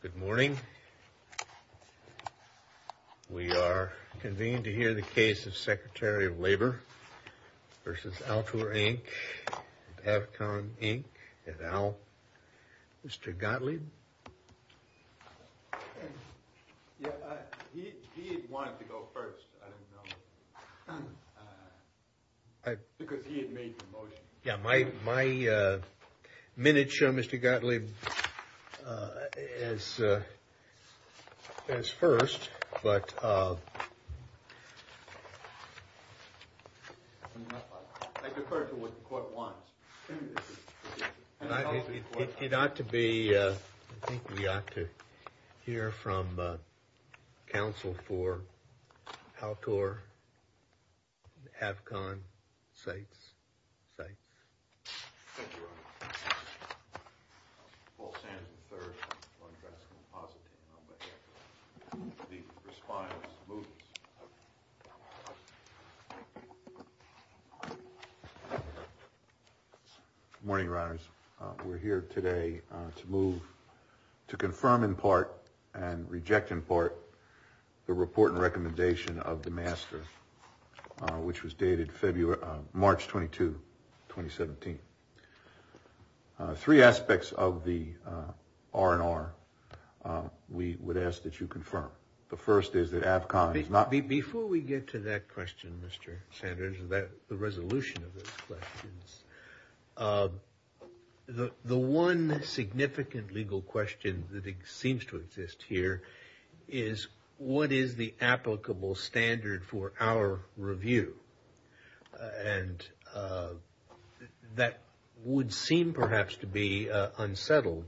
Good morning. We are convened to hear the case of Secretary of Labor v. Altor, Inc., Avcom, Inc., et al. Mr. Gottlieb. He wanted to go first because he had made the motion. Yeah, my minute showed Mr. Gottlieb as first. I defer to what the court wants. It ought to be, I think we ought to hear from counsel for Altor, Avcom, Sites. Thank you, Your Honor. Paul Sands, III. I'm going to address him in positive. I'll let him speak and respond as he moves. Good morning, Your Honors. We're here today to move to confirm in part and reject in part the report and recommendation of the master, which was dated March 22, 2017. Three aspects of the R&R we would ask that you confirm. The first is that Avcom is not- Before we get to that question, Mr. Sanders, the resolution of those questions, the one significant legal question that seems to exist here is what is the applicable standard for our review? And that would seem perhaps to be unsettled.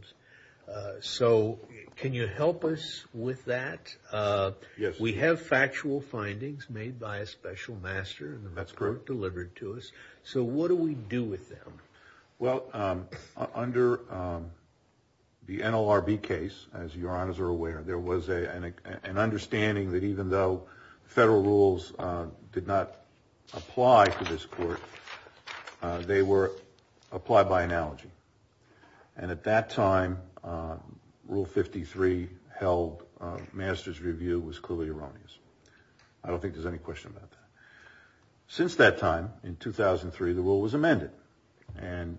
So can you help us with that? Yes. We have factual findings made by a special master. That's correct. Delivered to us. So what do we do with them? Well, under the NLRB case, as Your Honors are aware, there was an understanding that even though federal rules did not apply to this court, they were applied by analogy. And at that time, Rule 53 held master's review was clearly erroneous. I don't think there's any question about that. Since that time, in 2003, the rule was amended. And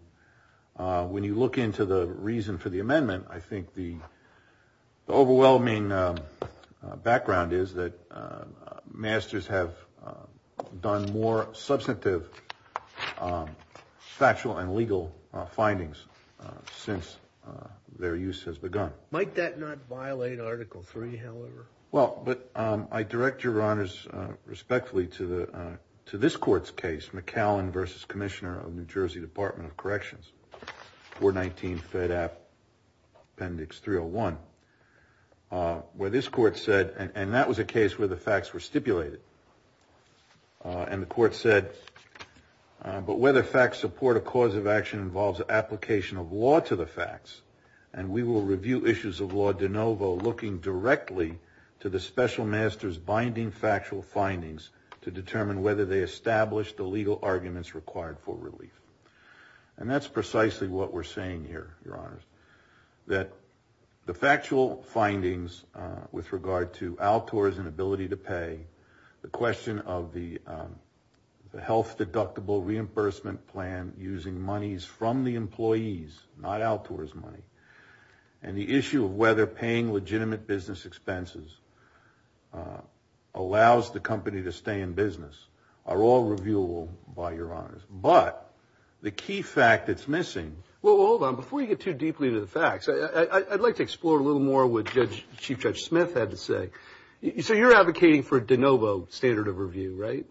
when you look into the reason for the amendment, I think the overwhelming background is that masters have done more substantive factual and legal findings since their use has begun. Might that not violate Article 3, however? Well, but I direct Your Honors respectfully to this court's case, McAllen v. Commissioner of New Jersey Department of Corrections, 419 Fed App, Appendix 301, where this court said, and that was a case where the facts were stipulated. And the court said, but whether facts support a cause of action involves application of law to the facts, and we will review issues of law de novo looking directly to the special master's binding factual findings to determine whether they establish the legal arguments required for relief. And that's precisely what we're saying here, Your Honors, that the factual findings with regard to Altor's inability to pay, the question of the health deductible reimbursement plan using monies from the employees, not Altor's money, and the issue of whether paying legitimate business expenses allows the company to stay in business are all reviewable by Your Honors. But the key fact that's missing... Well, hold on. Before you get too deeply into the facts, I'd like to explore a little more what Chief Judge Smith had to say. So you're advocating for de novo standard of review, right?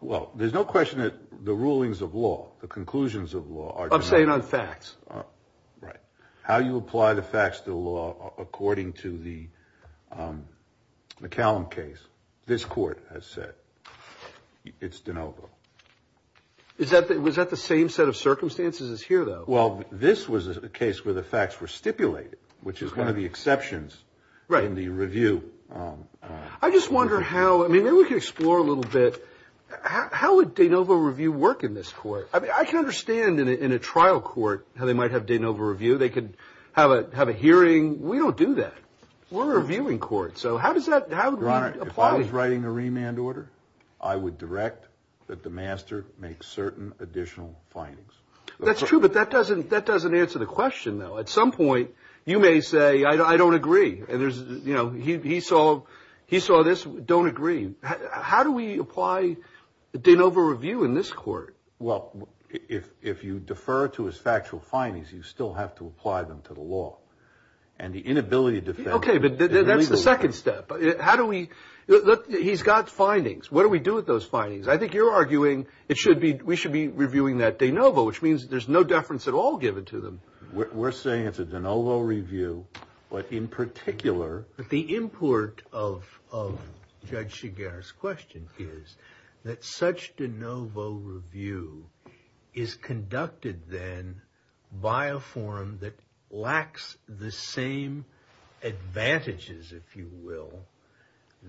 Well, there's no question that the rulings of law, the conclusions of law are de novo. I'm saying on facts. Right. How you apply the facts to the law according to the McAllen case, this court has said. It's de novo. Was that the same set of circumstances as here, though? Well, this was a case where the facts were stipulated, which is one of the exceptions in the review. I just wonder how... I mean, maybe we could explore a little bit. How would de novo review work in this court? I mean, I can understand in a trial court how they might have de novo review. They could have a hearing. We don't do that. We're a reviewing court. So how does that... If I was writing a remand order, I would direct that the master make certain additional findings. That's true, but that doesn't answer the question, though. At some point, you may say, I don't agree. He saw this, don't agree. How do we apply de novo review in this court? Well, if you defer to his factual findings, you still have to apply them to the law. And the inability to defend... Okay, but that's the second step. How do we... He's got findings. What do we do with those findings? I think you're arguing we should be reviewing that de novo, which means there's no deference at all given to them. We're saying it's a de novo review, but in particular... But the import of Judge Shigar's question is that such de novo review is conducted then by a forum that lacks the same advantages, if you will,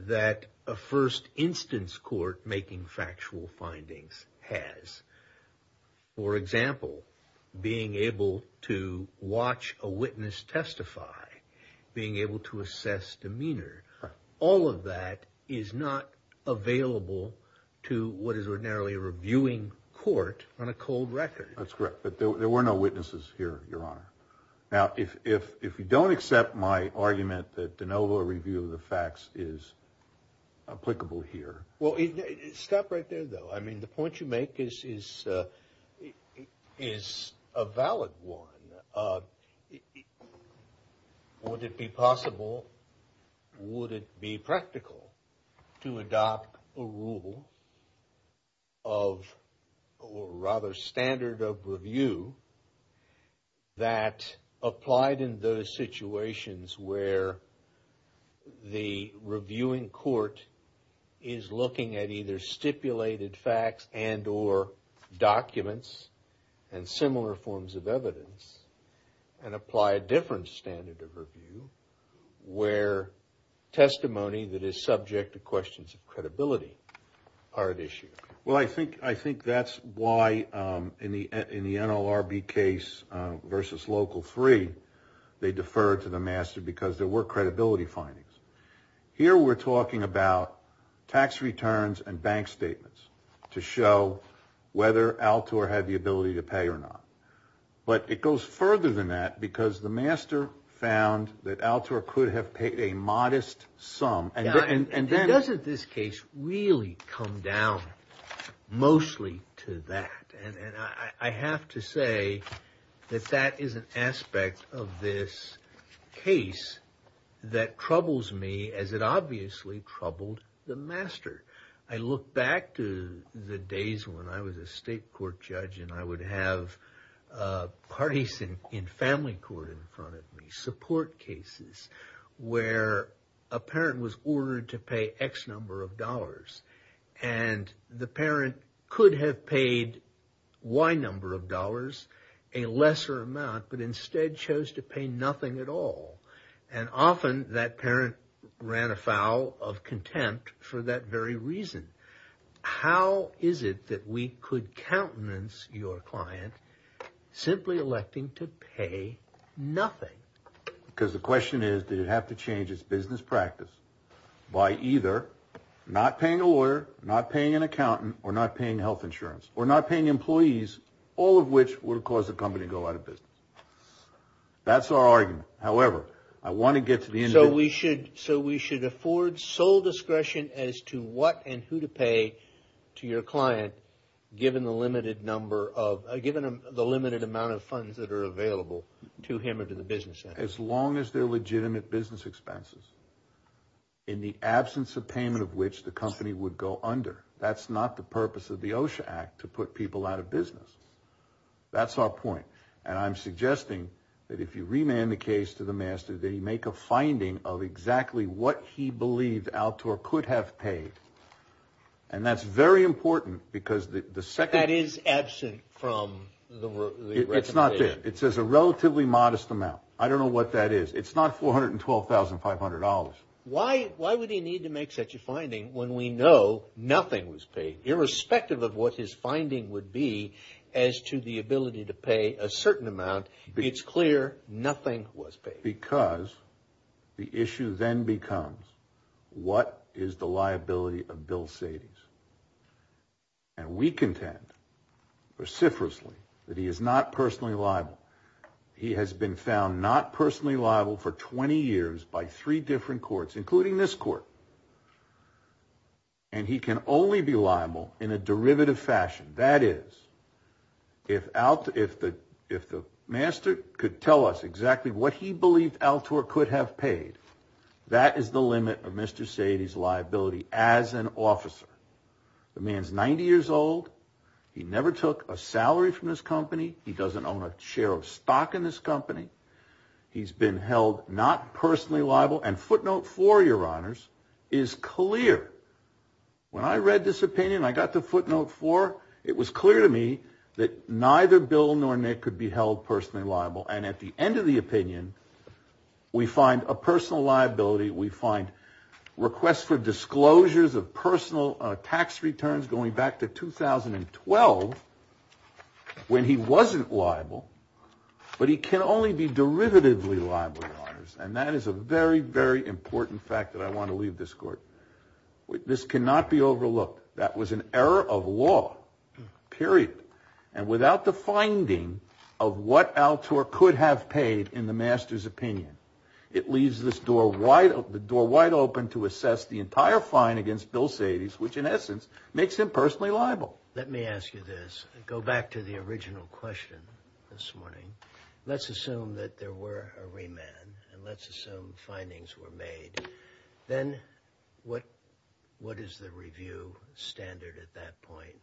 that a first instance court making factual findings has. For example, being able to watch a witness testify, being able to assess demeanor. All of that is not available to what is ordinarily a reviewing court on a cold record. That's correct, but there were no witnesses here, Your Honor. Now, if you don't accept my argument that de novo review of the facts is applicable here... Stop right there, though. I mean, the point you make is a valid one. Would it be possible, would it be practical to adopt a rule of, or rather standard of review, that applied in those situations where the reviewing court is looking at either stipulated facts and or documents and similar forms of evidence and apply a different standard of review where testimony that is subject to questions of credibility are at issue? Well, I think that's why in the NLRB case versus Local 3, they deferred to the master because there were credibility findings. Here we're talking about tax returns and bank statements to show whether Altor had the ability to pay or not. But it goes further than that because the master found that Altor could have paid a modest sum. And doesn't this case really come down mostly to that? And I have to say that that is an aspect of this case that troubles me as it obviously troubled the master. I look back to the days when I was a state court judge and I would have parties in family court in front of me, support cases, where a parent was ordered to pay X number of dollars and the parent could have paid Y number of dollars, a lesser amount, but instead chose to pay nothing at all. And often that parent ran afoul of contempt for that very reason. How is it that we could countenance your client simply electing to pay nothing? Because the question is, did it have to change its business practice by either not paying a lawyer, not paying an accountant, or not paying health insurance, or not paying employees, all of which would have caused the company to go out of business? That's our argument. However, I want to get to the end of it. As long as they're legitimate business expenses, in the absence of payment of which the company would go under. That's not the purpose of the OSHA Act to put people out of business. That's our point. And I'm suggesting that if you remand the case to the master, they make a finding of exactly what he believed Altor could have paid. And that's very important because the second... That is absent from the recommendation. It's not there. It says a relatively modest amount. I don't know what that is. It's not $412,500. Why would he need to make such a finding when we know nothing was paid? Irrespective of what his finding would be as to the ability to pay a certain amount, it's clear nothing was paid. It's because the issue then becomes, what is the liability of Bill Sadies? And we contend, vociferously, that he is not personally liable. He has been found not personally liable for 20 years by three different courts, including this court. And he can only be liable in a derivative fashion. That is, if the master could tell us exactly what he believed Altor could have paid, that is the limit of Mr. Sadie's liability as an officer. The man's 90 years old. He never took a salary from this company. He doesn't own a share of stock in this company. He's been held not personally liable. And footnote four, your honors, is clear. When I read this opinion, I got to footnote four. It was clear to me that neither Bill nor Nick could be held personally liable. And at the end of the opinion, we find a personal liability. We find requests for disclosures of personal tax returns going back to 2012, when he wasn't liable. But he can only be derivatively liable, your honors. And that is a very, very important fact that I want to leave this court. This cannot be overlooked. That was an error of law, period. And without the finding of what Altor could have paid in the master's opinion, it leaves this door wide open to assess the entire fine against Bill Sadie's, which in essence makes him personally liable. Let me ask you this. Go back to the original question this morning. Let's assume that there were a remand and let's assume findings were made. Then what what is the review standard at that point?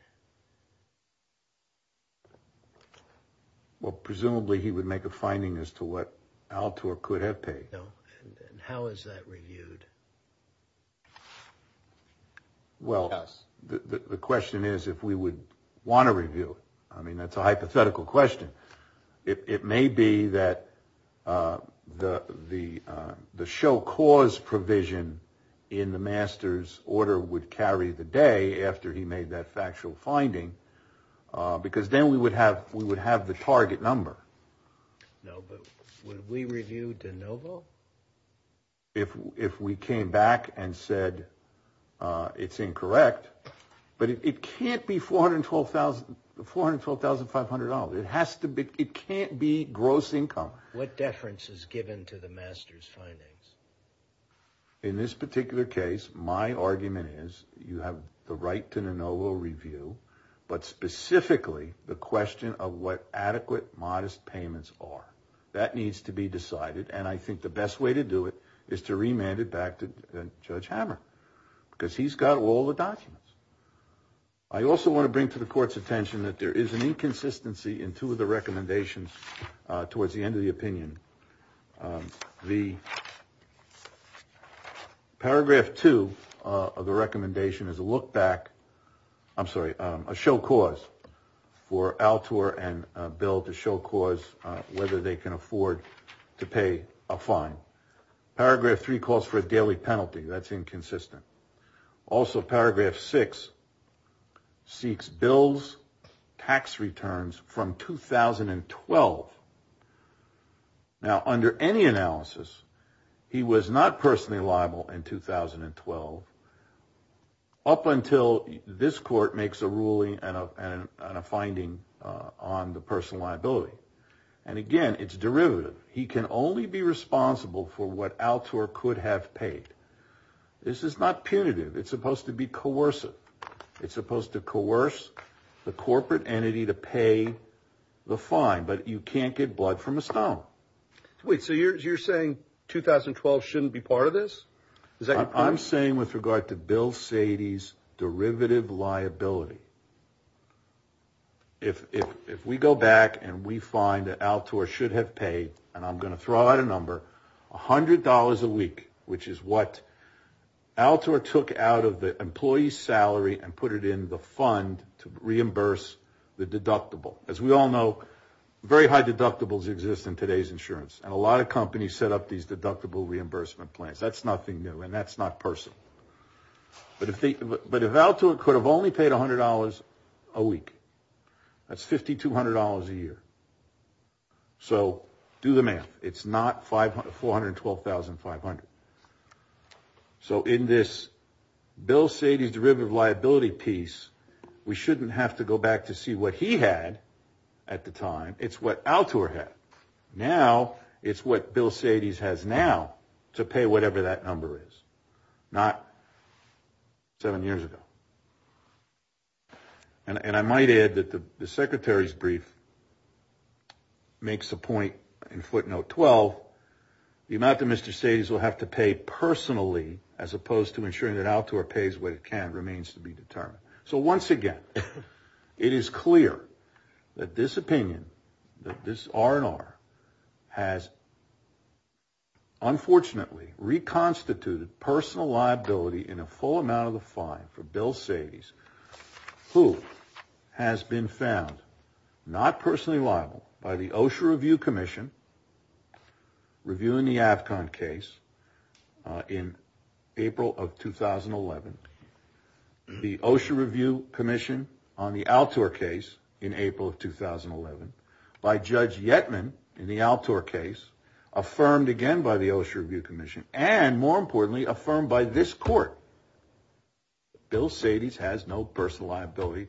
Well, presumably he would make a finding as to what Altor could have paid. And how is that reviewed? Well, the question is, if we would want to review it, I mean, that's a hypothetical question. It may be that the the the show cause provision in the master's order would carry the day after he made that factual finding, because then we would have we would have the target number. No, but when we reviewed the novel. If if we came back and said it's incorrect, but it can't be four hundred and twelve thousand four hundred twelve thousand five hundred dollars, it has to be. It can't be gross income. What deference is given to the master's findings? In this particular case, my argument is you have the right to the novel review, but specifically the question of what adequate, modest payments are. That needs to be decided. And I think the best way to do it is to remand it back to Judge Hammer because he's got all the documents. I also want to bring to the court's attention that there is an inconsistency in two of the recommendations towards the end of the opinion. The. Paragraph two of the recommendation is a look back. I'm sorry. A show cause for Altor and Bill to show cause whether they can afford to pay a fine. Paragraph three calls for a daily penalty. That's inconsistent. Also, paragraph six. Seeks bills, tax returns from 2012. Now, under any analysis, he was not personally liable in 2012. Up until this court makes a ruling and a finding on the personal liability. And again, it's derivative. He can only be responsible for what Altor could have paid. This is not punitive. It's supposed to be coercive. It's supposed to coerce the corporate entity to pay the fine. But you can't get blood from a stone. Wait. So you're you're saying 2012 shouldn't be part of this. Is that I'm saying with regard to Bill Sadie's derivative liability. If we go back and we find that Altor should have paid. And I'm going to throw out a number. One hundred dollars a week, which is what Altor took out of the employee's salary and put it in the fund to reimburse the deductible. As we all know, very high deductibles exist in today's insurance. And a lot of companies set up these deductible reimbursement plans. That's nothing new. And that's not personal. But if Altor could have only paid one hundred dollars a week, that's fifty two hundred dollars a year. So do the math. It's not five hundred four hundred twelve thousand five hundred. So in this Bill Sadie's derivative liability piece, we shouldn't have to go back to see what he had at the time. It's what Altor had. Now it's what Bill Sadie's has now to pay whatever that number is. Not. Seven years ago. And I might add that the secretary's brief makes a point in footnote 12. The amount that Mr. Sadie's will have to pay personally, as opposed to ensuring that Altor pays what it can remains to be determined. So once again, it is clear that this opinion, that this R&R has. Unfortunately, reconstituted personal liability in a full amount of the fine for Bill Sadie's, who has been found not personally liable by the OSHA Review Commission reviewing the Afcon case in April of 2011. The OSHA Review Commission on the Altor case in April of 2011 by Judge Yetman in the Altor case, affirmed again by the OSHA Review Commission and more importantly, affirmed by this court. Bill Sadie's has no personal liability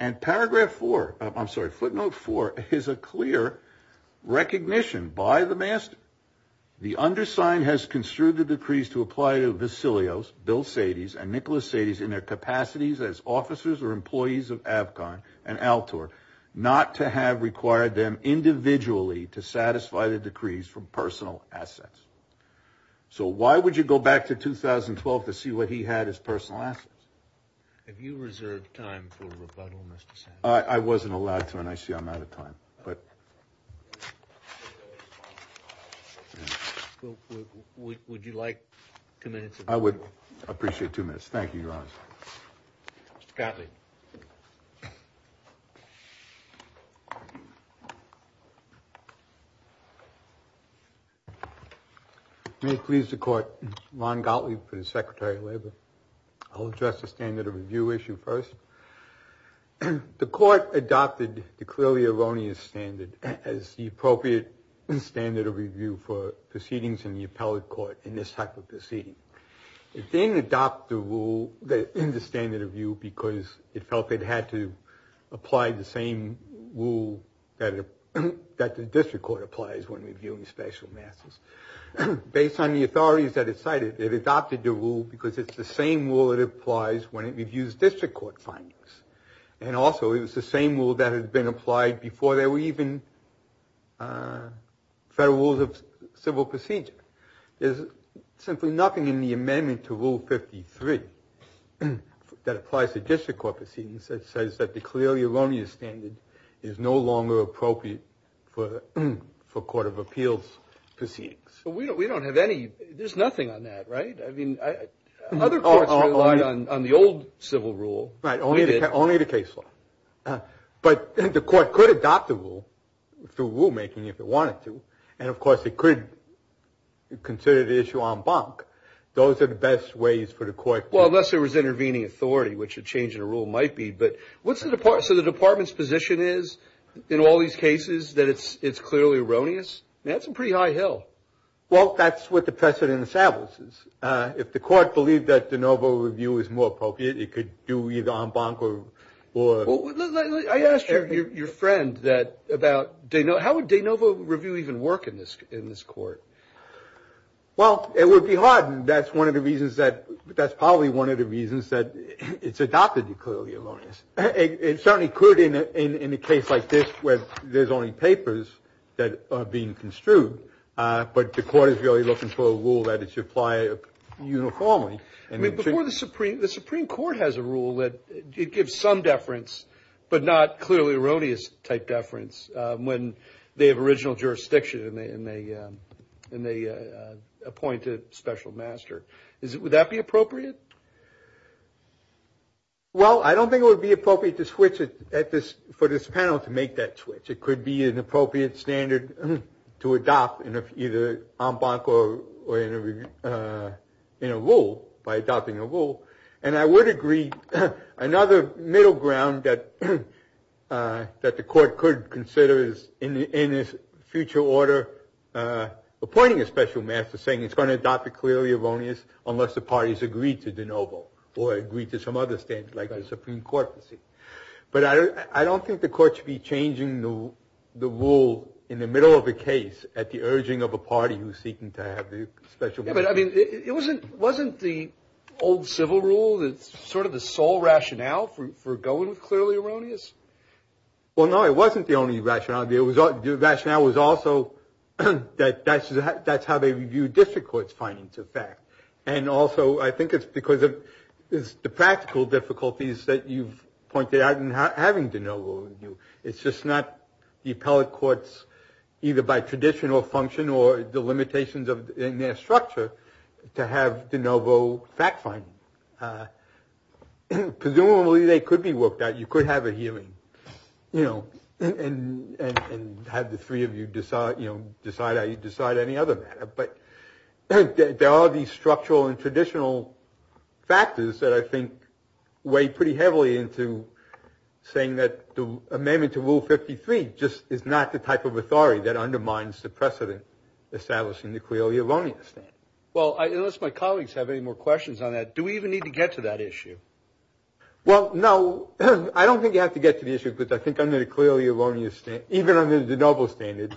and paragraph four. I'm sorry. Footnote four is a clear recognition by the master. The undersigned has construed the decrees to apply to Vesalios, Bill Sadie's and Nicholas Sadie's in their capacities as officers or employees of Afcon and Altor, not to have required them individually to satisfy the decrees from personal assets. So why would you go back to 2012 to see what he had as personal assets? If you reserve time for rebuttal, Mr. I wasn't allowed to and I see I'm out of time, but. Would you like two minutes? I would appreciate two minutes. Thank you. Mr. Gottlieb. May it please the court. Ron Gottlieb for the Secretary of Labor. I'll address the standard of review issue first. And the court adopted the clearly erroneous standard as the appropriate standard of review for proceedings in the appellate court in this type of proceeding. It didn't adopt the rule in the standard of view because it felt it had to apply the same rule that the district court applies when reviewing special masses. Based on the authorities that it cited, it adopted the rule because it's the same rule that applies when it reviews district court findings. And also it was the same rule that had been applied before there were even federal rules of civil procedure. There's simply nothing in the amendment to Rule 53 that applies to district court proceedings that says that the clearly erroneous standard is no longer appropriate for court of appeals proceedings. So we don't we don't have any. There's nothing on that. Right. I mean, I. Other courts relied on the old civil rule. Right. Only the case law. But the court could adopt the rule through rulemaking if it wanted to. And, of course, it could consider the issue en banc. Those are the best ways for the court. Well, unless there was intervening authority, which a change in a rule might be. But what's the department? So the department's position is in all these cases that it's it's clearly erroneous. That's a pretty high hill. Well, that's what the precedent establishes. If the court believed that de novo review is more appropriate, it could do either en banc or. I asked your friend that about how would de novo review even work in this in this court? Well, it would be hard. And that's one of the reasons that that's probably one of the reasons that it's adopted. It certainly could in a case like this where there's only papers that are being construed. But the court is really looking for a rule that it should apply uniformly. And before the Supreme, the Supreme Court has a rule that it gives some deference, but not clearly erroneous type deference when they have original jurisdiction and they and they and they appoint a special master. Is it would that be appropriate? Well, I don't think it would be appropriate to switch it at this for this panel to make that switch. It could be an appropriate standard to adopt in either en banc or in a rule by adopting a rule. And I would agree. Another middle ground that that the court could consider is in this future order, appointing a special master saying it's going to adopt a clearly erroneous unless the parties agree to de novo or agree to some other standards like the Supreme Court. But I don't think the court should be changing the rule in the middle of a case at the urging of a party who's seeking to have the special. But I mean, it wasn't wasn't the old civil rule. It's sort of the sole rationale for going clearly erroneous. Well, no, it wasn't the only rationale. The rationale was also that that's that's how they review district court's findings of fact. And also, I think it's because of the practical difficulties that you've pointed out in having de novo. It's just not the appellate courts, either by tradition or function or the limitations of their structure to have de novo fact finding. Presumably they could be worked out. You could have a hearing, you know, and have the three of you decide, you know, decide how you decide any other matter. But there are these structural and traditional factors that I think weigh pretty heavily into saying that the amendment to Rule 53 just is not the type of authority that undermines the precedent establishing the clearly erroneous. Well, unless my colleagues have any more questions on that, do we even need to get to that issue? Well, no, I don't think you have to get to the issue, but I think I'm going to clearly erroneous, even under the noble standard.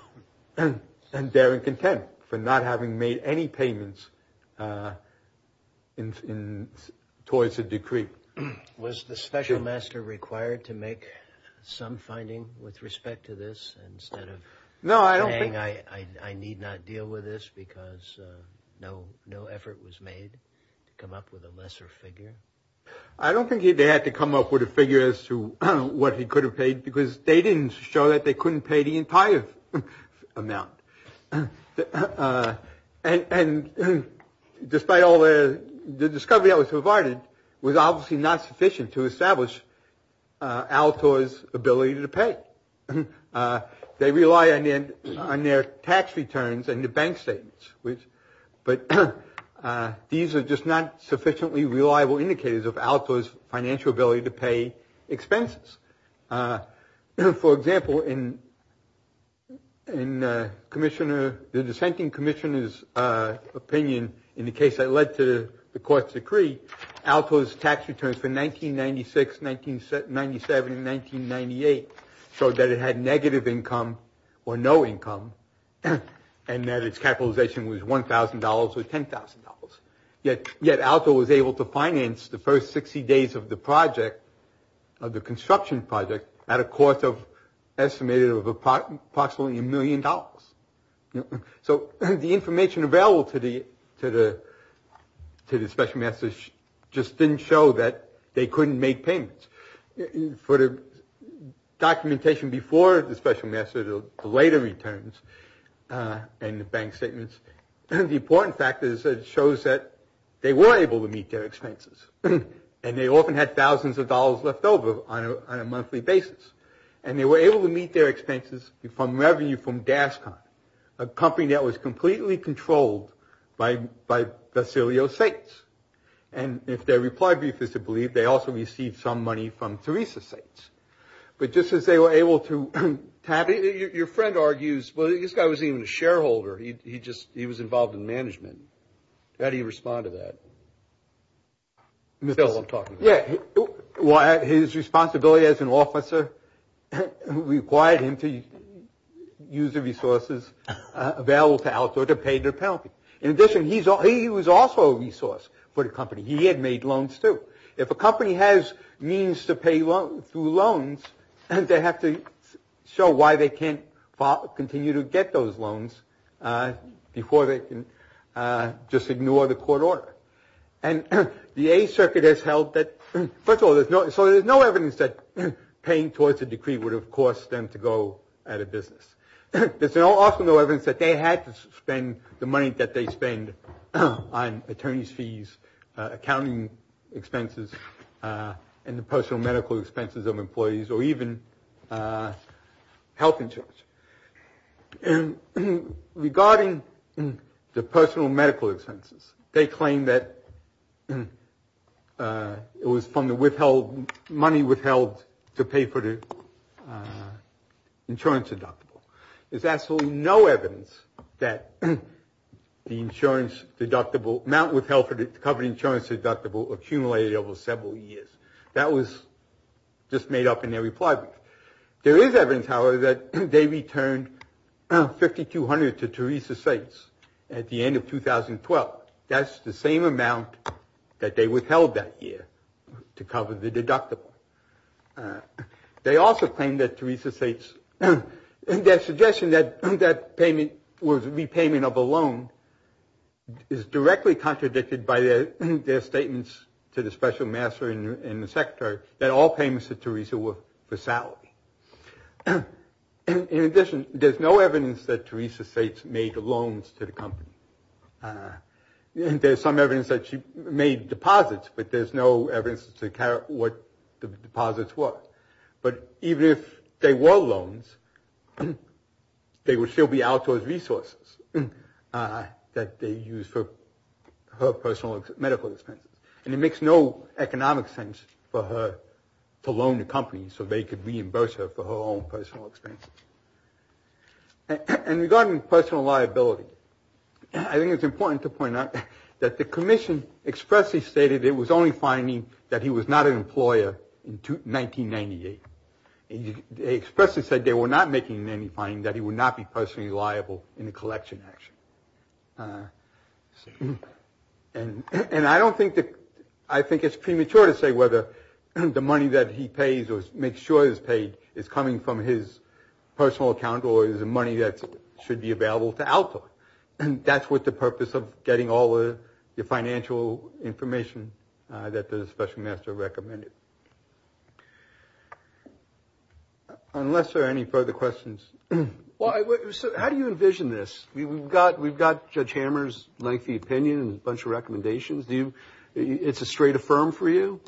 And they're in contempt for not having made any payments in towards a decree. Was the special master required to make some finding with respect to this instead of. No, I don't think I need not deal with this because no, no effort was made to come up with a lesser figure. I don't think they had to come up with a figure as to what he could have paid because they didn't show that they couldn't pay the entire amount. And despite all the discovery that was provided was obviously not sufficient to establish Alator's ability to pay. They rely on their tax returns and the bank statements, but these are just not sufficiently reliable indicators of Alator's financial ability to pay expenses. For example, in the dissenting commissioner's opinion in the case that led to the court's decree, Alator's tax returns for 1996, 1997, and 1998 showed that it had negative income or no income and that its capitalization was $1,000 or $10,000. Yet Alator was able to finance the first 60 days of the project, of the construction project, at a cost of estimated of approximately $1 million. So the information available to the special masters just didn't show that they couldn't make payments. For the documentation before the special master, the later returns and the bank statements, the important fact is that it shows that they were able to meet their expenses and they often had thousands of dollars left over on a monthly basis. And they were able to meet their expenses from revenue from Daskon, a company that was completely controlled by Basilio States. And if their reply brief is to believe, they also received some money from Teresa States. But just as they were able to have it, your friend argues, well, this guy wasn't even a shareholder. He just, he was involved in management. How do you respond to that? That's all I'm talking about. Yeah. Well, his responsibility as an officer required him to use the resources available to Alator to pay their penalty. In addition, he was also a resource for the company. He had made loans, too. If a company has means to pay through loans, they have to show why they can't continue to get those loans before they can just ignore the court order. And the A Circuit has held that, first of all, so there's no evidence that paying towards a decree would have cost them to go out of business. There's also no evidence that they had to spend the money that they spend on attorney's fees, accounting expenses, and the personal medical expenses of employees, or even health insurance. And regarding the personal medical expenses, they claim that it was from the money withheld to pay for the insurance deductible. There's absolutely no evidence that the amount withheld for the covered insurance deductible accumulated over several years. That was just made up in their reply brief. There is evidence, however, that they returned 5,200 to Teresa Sates at the end of 2012. That's the same amount that they withheld that year to cover the deductible. They also claim that Teresa Sates, their suggestion that that payment was repayment of a loan, is directly contradicted by their statements to the special master and the secretary that all payments to Teresa were for salary. In addition, there's no evidence that Teresa Sates made loans to the company. There's some evidence that she made deposits, but there's no evidence to what the deposits were. But even if they were loans, they would still be out towards resources that they used for her personal medical expenses. And it makes no economic sense for her to loan the company so they could reimburse her for her own personal expenses. And regarding personal liability, I think it's important to point out that the commission expressly stated it was only finding that he was not an employer in 1998. They expressly said they were not making any finding that he would not be personally liable in a collection action. And I don't think that – I think it's premature to say whether the money that he pays or makes sure is paid is coming from his personal account or is money that should be available to Alta. And that's what the purpose of getting all the financial information that the special master recommended. Unless there are any further questions. Well, how do you envision this? We've got Judge Hammer's lengthy opinion and a bunch of recommendations. Do you – it's a straight affirm for you?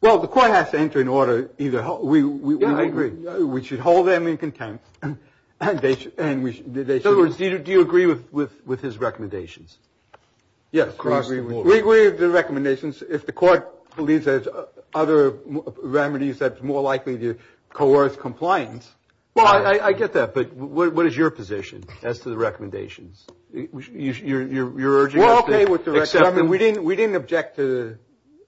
Well, the court has to enter an order either – we agree. Yeah, I agree. We should hold them in contempt. In other words, do you agree with his recommendations? Yes, we agree with the recommendations. If the court believes there's other remedies that's more likely to coerce compliance. Well, I get that. But what is your position as to the recommendations? You're urging us to – We're okay with the recommendations. We didn't object to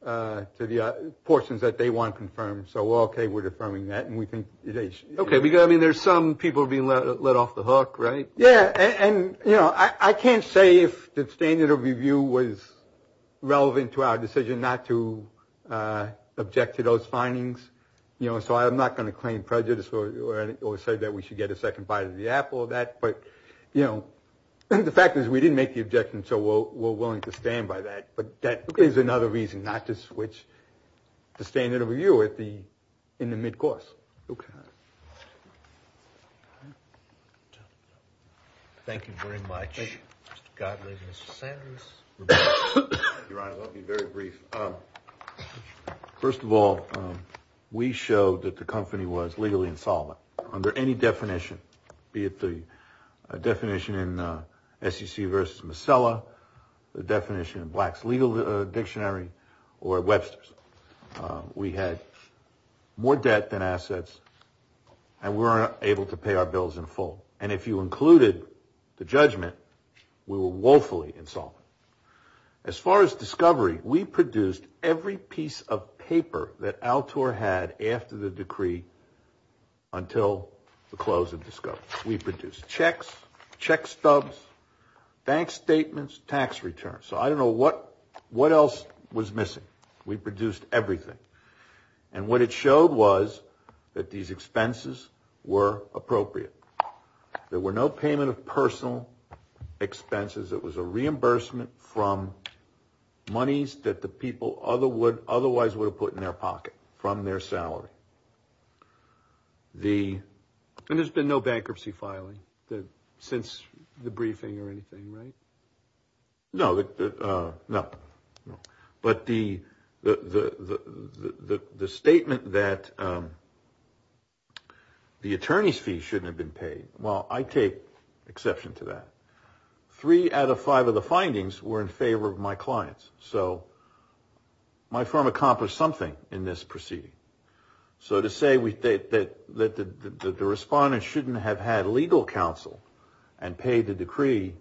the portions that they want confirmed. So we're okay with affirming that. I mean, there's some people being let off the hook, right? Yeah, and, you know, I can't say if the standard of review was relevant to our decision not to object to those findings. You know, so I'm not going to claim prejudice or say that we should get a second bite of the apple of that. But, you know, the fact is we didn't make the objection, so we're willing to stand by that. But that is another reason not to switch the standard of review in the midcourse. Okay. Thank you very much, Mr. Gottlieb and Mr. Sanders. Your Honor, I'll be very brief. First of all, we showed that the company was legally insolvent under any definition, be it the definition in SEC v. Masella, the definition in Black's Legal Dictionary, or Webster's. We had more debt than assets, and we weren't able to pay our bills in full. And if you included the judgment, we were woefully insolvent. As far as discovery, we produced every piece of paper that Altor had after the decree until the close of discovery. We produced checks, check stubs, bank statements, tax returns. So I don't know what else was missing. We produced everything. And what it showed was that these expenses were appropriate. There were no payment of personal expenses. It was a reimbursement from monies that the people otherwise would have put in their pocket from their salary. And there's been no bankruptcy filing since the briefing or anything, right? No. But the statement that the attorney's fee shouldn't have been paid, well, I take exception to that. Three out of five of the findings were in favor of my clients. So my firm accomplished something in this proceeding. So to say that the respondent shouldn't have had legal counsel and paid the decree,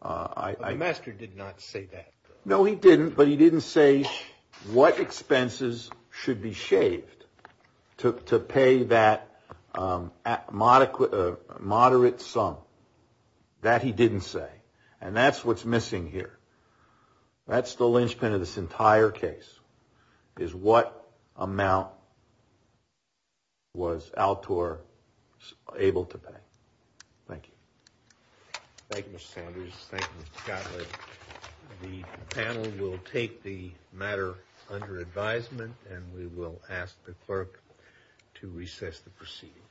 I — But the master did not say that. No, he didn't, but he didn't say what expenses should be shaved to pay that moderate sum. That he didn't say. And that's what's missing here. That's the linchpin of this entire case, is what amount was Altor able to pay. Thank you. Thank you, Mr. Sanders. Thank you, Mr. Gottlieb. The panel will take the matter under advisement, and we will ask the clerk to recess the proceeding.